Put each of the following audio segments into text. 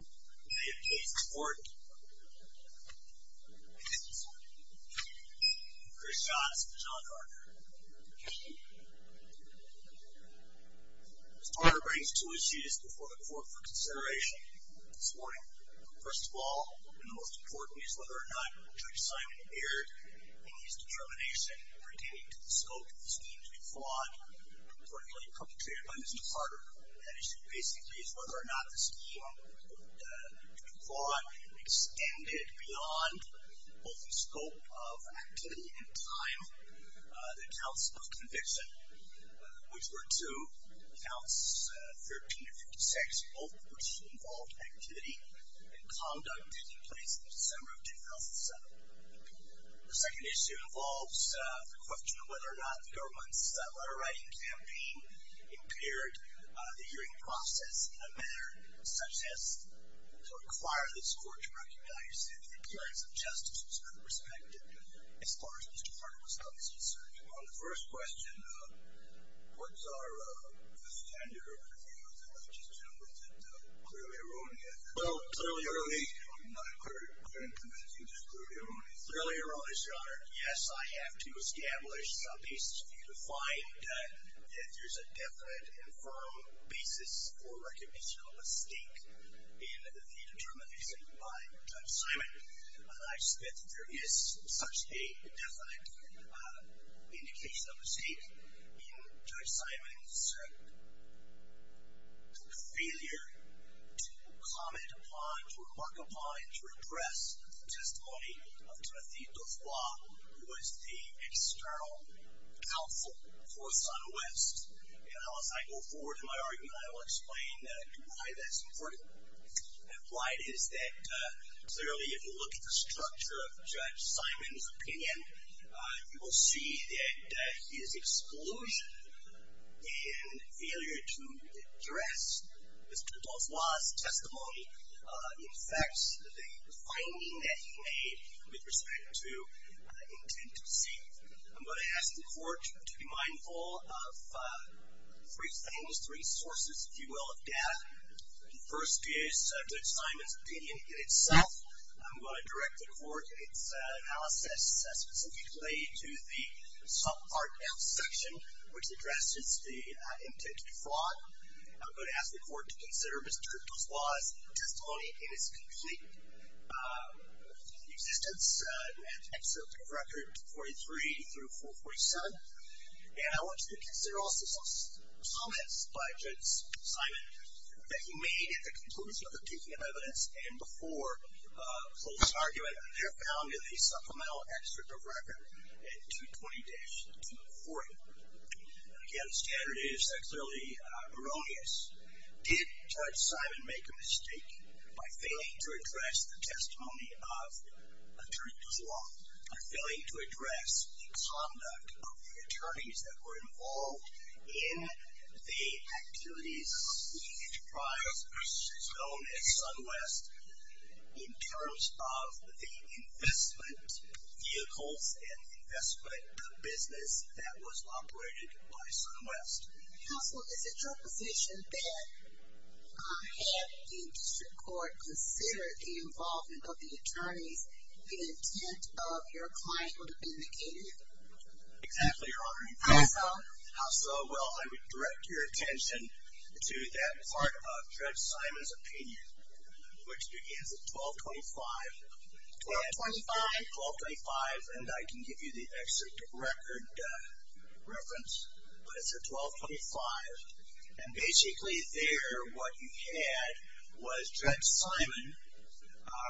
In the name of Jesus, the Lord, and the peace of His Holy Church, Christians of Jon Harder. Mr. Harder brings two issues before the court for consideration this morning. First of all, and the most important, is whether or not Judge Simon appeared in his determination pertaining to the scope of the scheme to be flawed, reportedly perpetrated by Mr. Harder. That issue basically is whether or not the scheme would be flawed and extended beyond both the scope of activity and time. The counts of conviction, which were two, counts 13 and 56, both of which involved activity and conduct taking place in December of 2007. The second issue involves the question of whether or not the government's letter-writing campaign impaired the hearing process in a manner such as to require the court to recognize the imperatives of justice with respect, as far as Mr. Harder was concerned. On the first question, what's our standard of review? Is it clearly erroneous? Well, clearly erroneous. I'm not clear in convincing, just clearly erroneous. Clearly erroneous, Your Honor. Yes, I have to establish some basis for you to find that there's a definite and firm basis for recognition of a mistake in the determination by Judge Simon. I suspect that there is such a definite indication of a mistake in Judge Simon's failure to comment upon, to remark upon, and to repress the testimony of Timothy Duflois, who was the external counsel for Son West. As I go forward in my argument, I will explain why that's important. Why it is that, clearly, if you look at the structure of Judge Simon's opinion, you will see that his exclusion and failure to address Mr. Duflois' testimony affects the finding that he made with respect to intent to deceive. I'm going to ask the Court to be mindful of three things, three sources, if you will, of data. The first is Judge Simon's opinion in itself. I'm going to direct the Court in its analysis specifically to the subpart F section, which addresses the intent to defraud. I'm going to ask the Court to consider Mr. Duflois' testimony in its complete existence at Excerpt of Record 43 through 447. And I want you to consider also some comments by Judge Simon that he made at the conclusion of the Peking of Evidence, and before closing argument, have found in the supplemental Excerpt of Record 220-240. Again, standard is that clearly erroneous. Did Judge Simon make a mistake by failing to address the testimony of Attorney Duflois, by failing to address the conduct of the attorneys that were involved in the activities of the enterprise, known as SunWest, in terms of the investment vehicles and investment business that was operated by SunWest? Counsel, is it your position that had the District Court considered the involvement of the attorneys, the intent of your client would have been indicated? Exactly, Your Honor. How so? Well, I would direct your attention to that part of Judge Simon's opinion, which begins at 1225. 1225? 1225, and I can give you the Excerpt of Record reference, but it's at 1225. And basically there, what you had was Judge Simon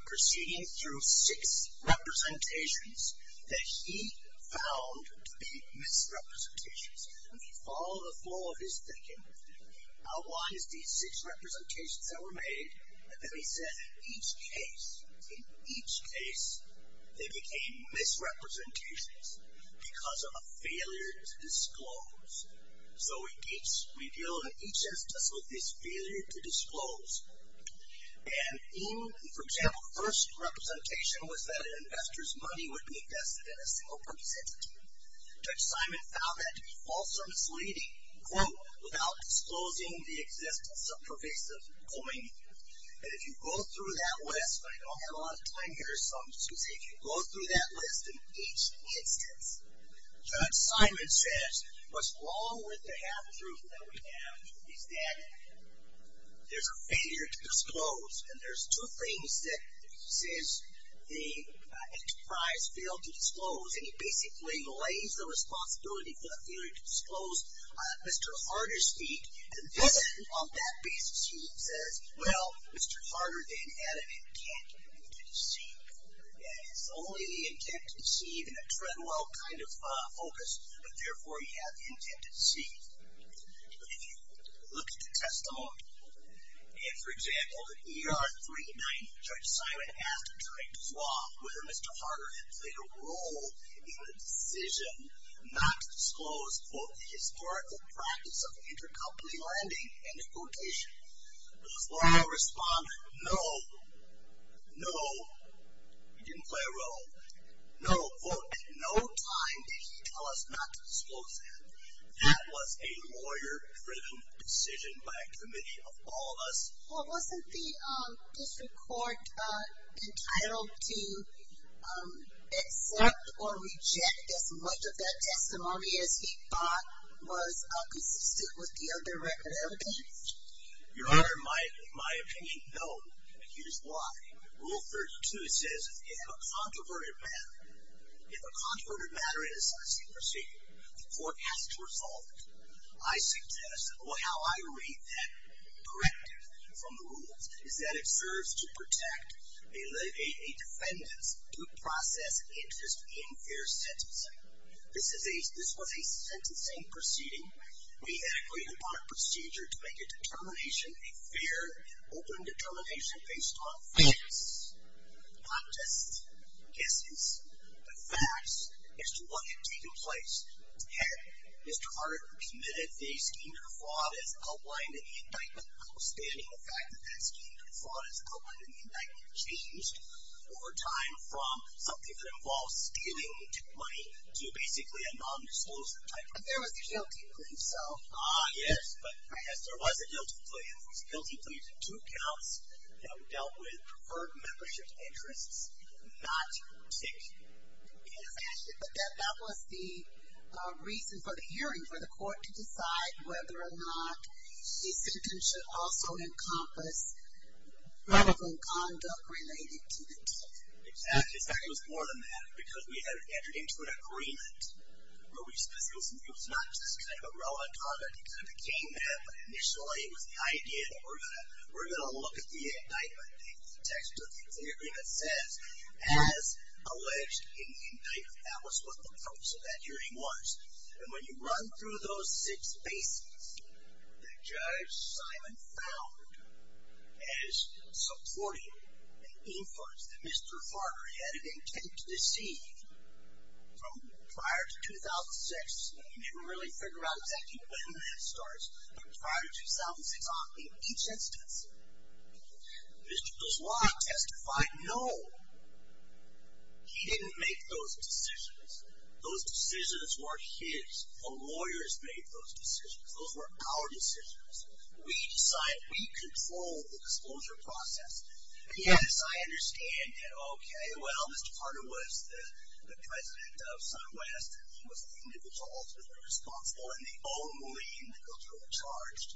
proceeding through six representations that he found to be misrepresentations. Let me follow the flow of his thinking. I'll watch these six representations that were made, and then he said, in each case, in each case, they became misrepresentations because of a failure to disclose. So we deal in each instance with this failure to disclose. And in, for example, the first representation was that an investor's money would be invested in a single participant. Judge Simon found that to be false or misleading, quote, without disclosing the existence of pervasive coin. And if you go through that list, but I don't have a lot of time here, so excuse me. If you go through that list in each instance, Judge Simon says, what's wrong with the half-truth that we have is that there's a failure to disclose. And there's two things that he says the enterprise failed to disclose, and he basically lays the responsibility for the failure to disclose on Mr. Harder's feet. And on that basis, he says, well, Mr. Harder then had an intent to deceive. And it's only the intent to deceive in a Treadwell kind of focus, but therefore he had the intent to deceive. But if you look at the testimony, and for example, in ER 390, Judge Simon asked Judge Law whether Mr. Harder had played a role in the decision not to disclose, quote, the historical practice of intercompany lending and importation. Judge Law responded, no, no, he didn't play a role. No, quote, at no time did he tell us not to disclose that. That was a lawyer-driven decision by a committee of all of us. Well, wasn't the district court entitled to accept or reject as much of that testimony as he thought was consistent with the other record evidence? Your Honor, in my opinion, no. And here's why. Rule 32 says if a controverted matter, if a controverted matter is a successful procedure, the court has to resolve it. I suggest, well, how I read that corrective from the rules is that it serves to protect a defendant's due process interest in their sentencing. This was a sentencing proceeding. We agreed upon a procedure to make a determination, a fair and open determination based on facts, not just guesses. The facts is to what had taken place. Had Mr. Carter committed a scheme or fraud as outlined in the indictment outstanding, the fact that that scheme or fraud as outlined in the indictment changed over time from something that involves stealing money to basically a nondisclosure type of thing. But there was a guilty plea, so. Ah, yes, but, yes, there was a guilty plea. Yes, there was a guilty plea to two counts that dealt with preferred membership interests, not tick. Yes, actually, but that was the reason for the hearing, for the court to decide whether or not the sentence should also encompass relevant conduct related to the tick. Exactly. In fact, it was more than that because we had entered into an agreement where we specifically said it was not just kind of a relevant conduct. It kind of became that, but initially it was the idea that we're going to look at the indictment, the text of the agreement says, as alleged in the indictment. That was what the purpose of that hearing was. And when you run through those six bases that Judge Simon found as supporting the inference that Mr. Carter had an intent to deceive from prior to 2006, and you didn't really figure out exactly when that starts, but prior to 2006, in each instance, Mr. Goswam testified, no, he didn't make those decisions. Those decisions weren't his. The lawyers made those decisions. Those were our decisions. We decided, we controlled the disclosure process. Yes, I understand that, okay, well, Mr. Carter was the president of SunWest. He was the individual ultimately responsible, and the only individual charged.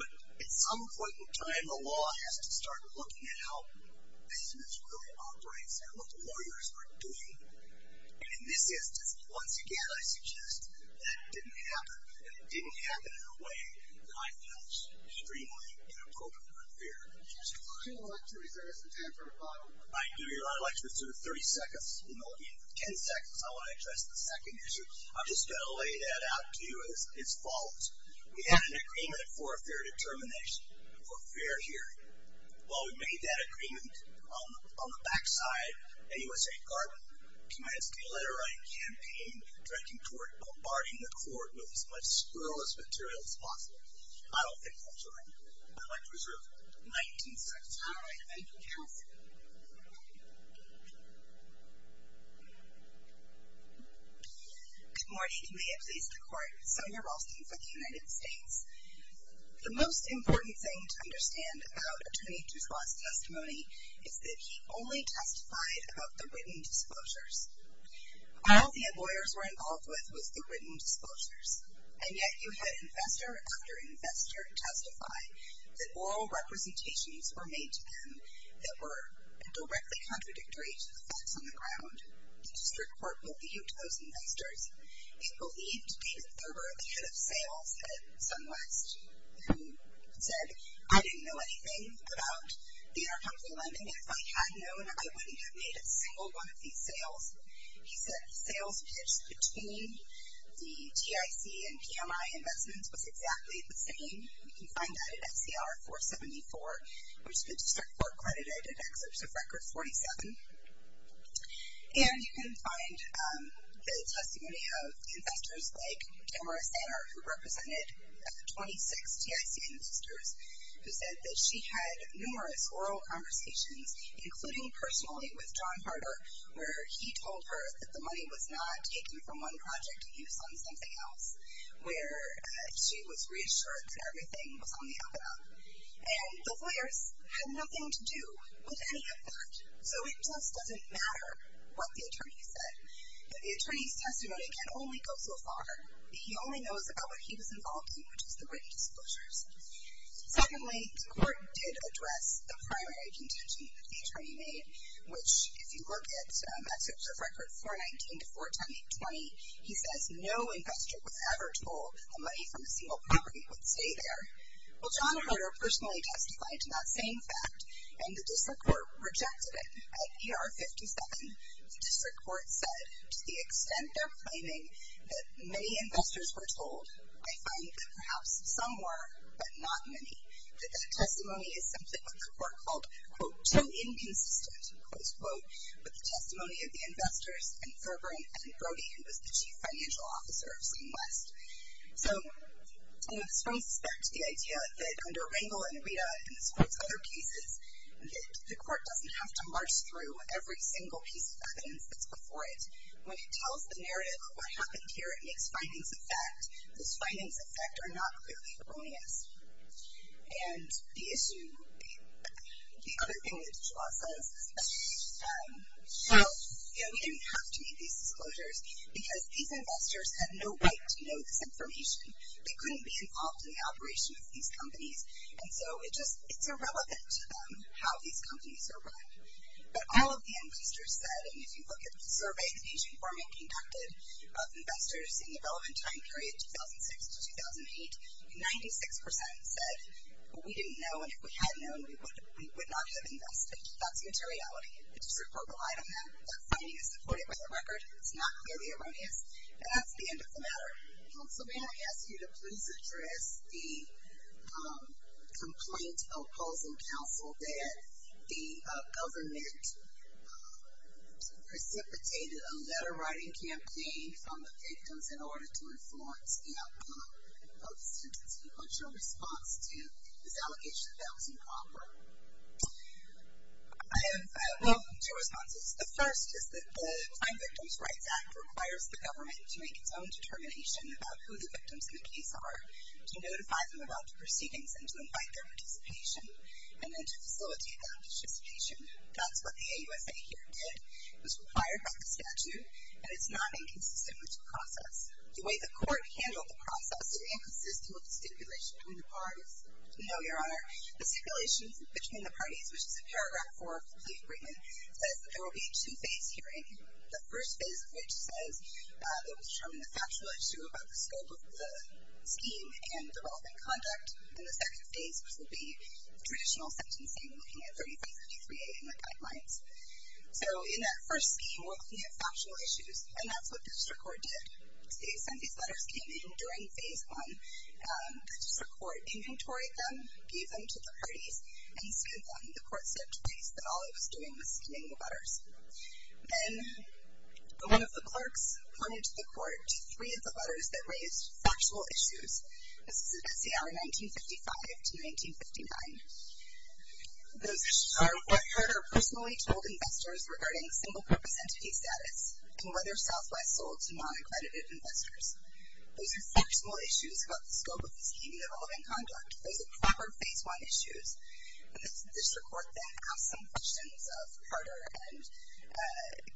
But at some point in time, the law has to start looking at how business really operates and what lawyers are doing. And in this instance, once again, I suggest that it didn't happen, and it didn't happen in a way that I feel is extremely inappropriate or unfair. I'd like to reserve some time for a follow-up. I do. I'd like to reserve 30 seconds. 10 seconds. I want to address the second issue. I'm just going to lay that out to you as follows. We had an agreement for a fair determination, for fair hearing. Well, we made that agreement on the back side. A U.S.A. government commenced a letter-writing campaign directing toward bombarding the court with as much squirrelish material as possible. I don't think that's right. All right. Thank you, counsel. Good morning. May it please the Court. Sonya Ralston for the United States. The most important thing to understand about Attorney Juswant's testimony is that he only testified about the written disclosures. All the lawyers were involved with was the written disclosures, and yet you had investor after investor testify that oral representations were made to them that were directly contradictory to the facts on the ground. The district court believed those investors. It believed David Thurber, the head of sales at SunWest, who said, I didn't know anything about the intercompany lending. If I had known, I wouldn't have made a single one of these sales. He said the sales pitch between the TIC and PMI investments was exactly the same. You can find that at SCR 474, which the district court credited at excerpts of Record 47. And you can find the testimony of investors like Tamara Sanner, who represented 26 TIC investors, who said that she had numerous oral conversations, including personally with John Harder, where he told her that the money was not taken from one project and used on something else, where she was reassured that everything was on the up and up. And the lawyers had nothing to do with any of that. So it just doesn't matter what the attorney said. And the attorney's testimony can only go so far. He only knows about what he was involved in, which was the written disclosures. Secondly, the court did address the primary contention that the attorney made, which if you look at excerpts of Record 419 to 410820, he says no investor was ever told how money from a single property would stay there. Well, John Harder personally testified to that same fact, and the district court rejected it. At ER 57, the district court said to the extent they're claiming that many investors were told, I find that perhaps some were, but not many, that that testimony is simply what the court called, quote, too inconsistent, close quote, with the testimony of the investors, and Thurber, and Brody, who was the chief financial officer of Seamless. So this brings us back to the idea that under Rangel and Rita and this court's other cases, the court doesn't have to march through every single piece of evidence that's before it. When it tells the narrative of what happened here, it makes findings of fact. Those findings of fact are not clearly erroneous. And the issue, the other thing that the law says is that we didn't have to make these disclosures because these investors had no right to know this information. They couldn't be involved in the operation of these companies, and so it's irrelevant to them how these companies are run. But all of the investors said, and if you look at the survey that Asian Foreman conducted, of investors in the relevant time period, 2006 to 2008, 96% said we didn't know, and if we had known, we would not have invested. That's materiality. It's just a focal item there. That finding is supported by the record. It's not clearly erroneous, and that's the end of the matter. Councilman, I ask you to please address the complaint opposing counsel that the government precipitated a letter-writing campaign from the victims in order to influence the outcome of the suit. Can you put your response to this allegation that was improper? I will put two responses. The first is that the Crime Victims' Rights Act requires the government to make its own determination about who the victims in the case are, to notify them about the proceedings, and to invite their participation, and then to facilitate that participation. That's what the AUSA here did. It was required by the statute, and it's not inconsistent with the process. The way the court handled the process is inconsistent with the stipulation between the parties. We know, Your Honor, the stipulation between the parties, which is a paragraph for a complete agreement, says that there will be a two-phase hearing. The first phase of which says it will determine the factual issue about the scope of the scheme and the relevant conduct. And the second phase, which will be traditional sentencing, looking at 3353A in the guidelines. So in that first scheme, we're looking at factual issues, and that's what the district court did. Since these letters came in during phase one, the district court inventoried them, gave them to the parties, and in phase one, the court said to the parties that all it was doing was giving the letters. Then one of the clerks pointed to the court three of the letters that raised factual issues. This is about CR 1955 to 1959. Those issues are what hurt our personally told investors regarding single-purpose entity status and whether Southwest sold to non-accredited investors. Those are factual issues about the scope of the scheme and the relevant conduct. Those are proper phase one issues. And the district court then asked some questions of Carter and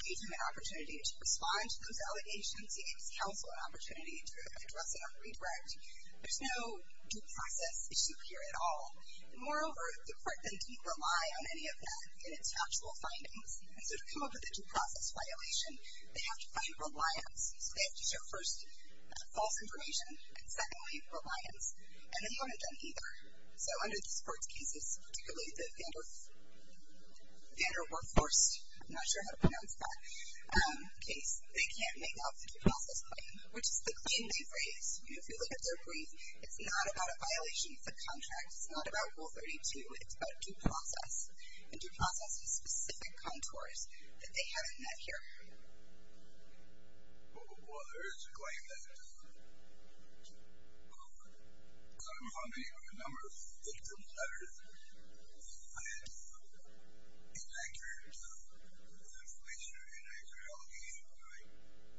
gave him an opportunity to respond to those allegations. He gave his counsel an opportunity to address it on redirect. There's no due process issue here at all. Moreover, the court then didn't rely on any of that in its actual findings. And so to come up with a due process violation, they have to find reliance. So they have to show, first, false information, and secondly, reliance. And they haven't done either. So under the sports cases, particularly the Vander Workforced, I'm not sure how to pronounce that, case, they can't make up the due process claim, which is the claim they raised. If you look at their brief, it's not about a violation of the contract. It's not about Rule 32. It's about due process. And due process is specific contours that they haven't met here. Well, there is a claim that some of the number of victim letters are inaccurate information or inaccurate allegations,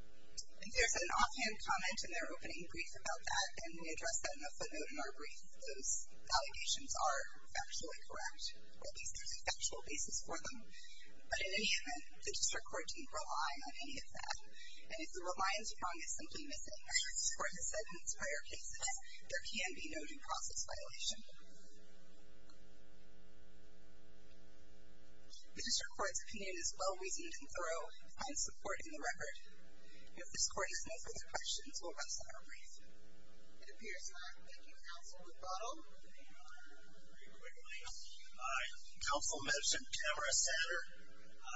right? There's an offhand comment in their opening brief about that, and we address that in the footnote in our brief. Those allegations are factually correct, or at least there's a factual basis for them. But in any event, the district court didn't rely on any of that. And if the reliance prong is simply missing, as this court has said in its prior cases, there can be no due process violation. The district court's opinion is well-reasoned and thorough on supporting the record. If this court has no further questions, we'll rest on our brief. It appears not. Thank you, counsel McBottle. Very quickly. Counsel mentioned Tamara Satter.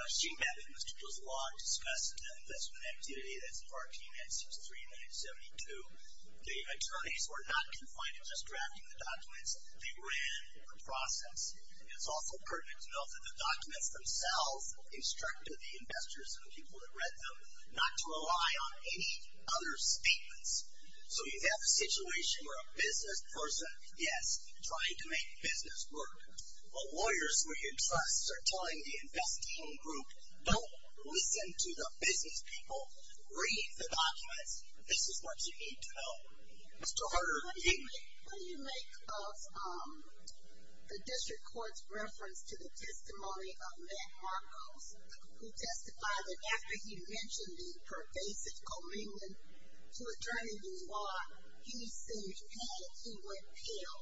She met in the district court's law and discussed the investment activity that's part T-963-972. The attorneys were not confined to just drafting the documents. They ran the process. And it's also pertinent to note that the documents themselves instructed the investors and the people that read them not to rely on any other statements. So you have a situation where a business person, yes, trying to make business work. Well, lawyers who you trust are telling the investing group, don't listen to the business people. Read the documents. This is what you need to know. Mr. Harder. What do you make of the district court's reference to the testimony of Matt Marcos, who testified that after he mentioned the pervasive commingling to attorney law, he said that he would fail.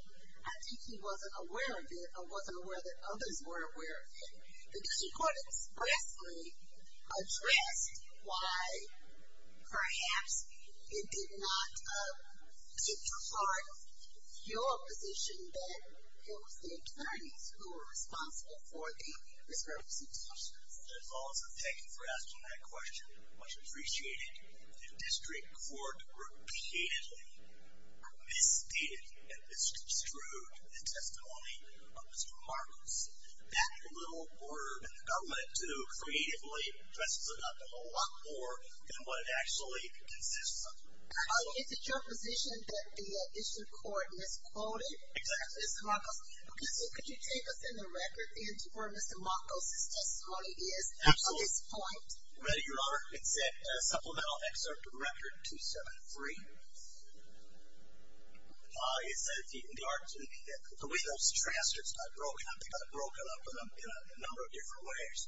I think he wasn't aware of it or wasn't aware that others were aware of it. The district court expressly addressed why perhaps it did not get to heart your position that it was the attorneys who were responsible for the reservations. Thank you for asking that question. Much appreciated. The district court repeatedly misstated and misconstrued the testimony of Mr. Marcos. That little word, and the government, too, creatively, dresses it up a whole lot more than what it actually consists of. Is it your position that the district court misquoted Mr. Marcos? Could you take us in the record into where Mr. Marcos' testimony is at this point? Ready, Your Honor. It's at Supplemental Excerpt Record 273. It says the way those transcripts got broken up, they got broken up in a number of different ways.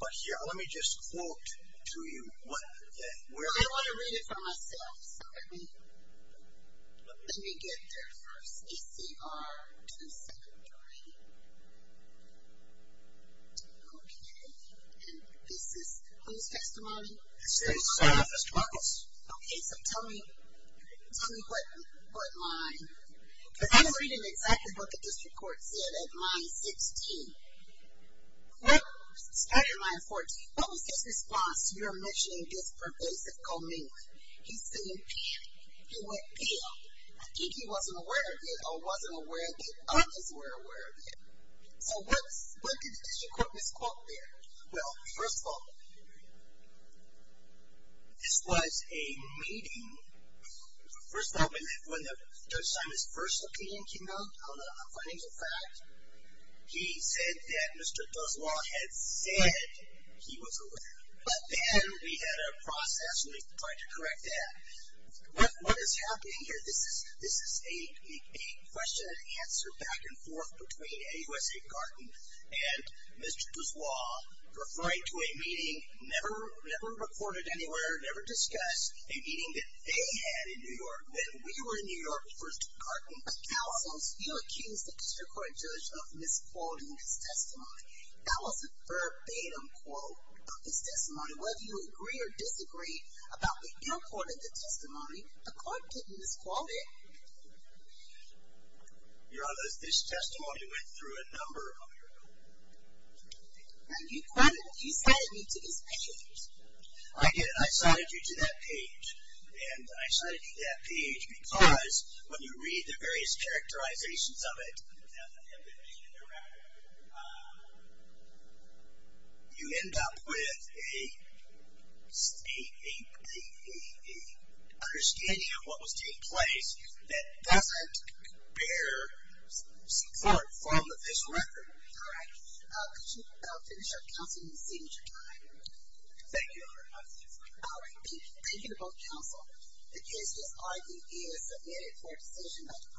But here, let me just quote to you. I don't want to read it for myself, so let me get there first. ACR to the secondary. Okay. And this is whose testimony? Mr. Marcos. Okay, so tell me what line. Because I was reading exactly what the district court said at line 16. What was his response to your mentioning this pervasive comment? He seemed panicked. He went pale. I think he wasn't aware of it, or wasn't aware that others were aware of it. So what did the district court misquote there? Well, first of all, this was a meeting. First of all, when Judge Simon's first opinion came out on the financial fact, he said that Mr. Duslaw had said he was aware. But then we had a process, and we tried to correct that. What is happening here? This is a question and answer back and forth between AUSA Garton and Mr. Duslaw referring to a meeting never recorded anywhere, never discussed, a meeting that they had in New York. When we were in New York first, Garton. Counsel, you accused the district court judge of misquoting his testimony. That was a verbatim quote of his testimony. Whether you agree or disagree about the airport and the testimony, the court didn't misquote it. Your Honor, this testimony went through a number of people. And you cited me to his page. I cited you to that page. And I cited you to that page because when you read the various characterizations of it, you end up with a understanding of what was taking place that doesn't bear support from the official record. All right. Could you finish up, Counsel, and then seize your time? Thank you, Your Honor. Thank you. Thank you to both counsel. The case is ID is submitted for a decision by the court.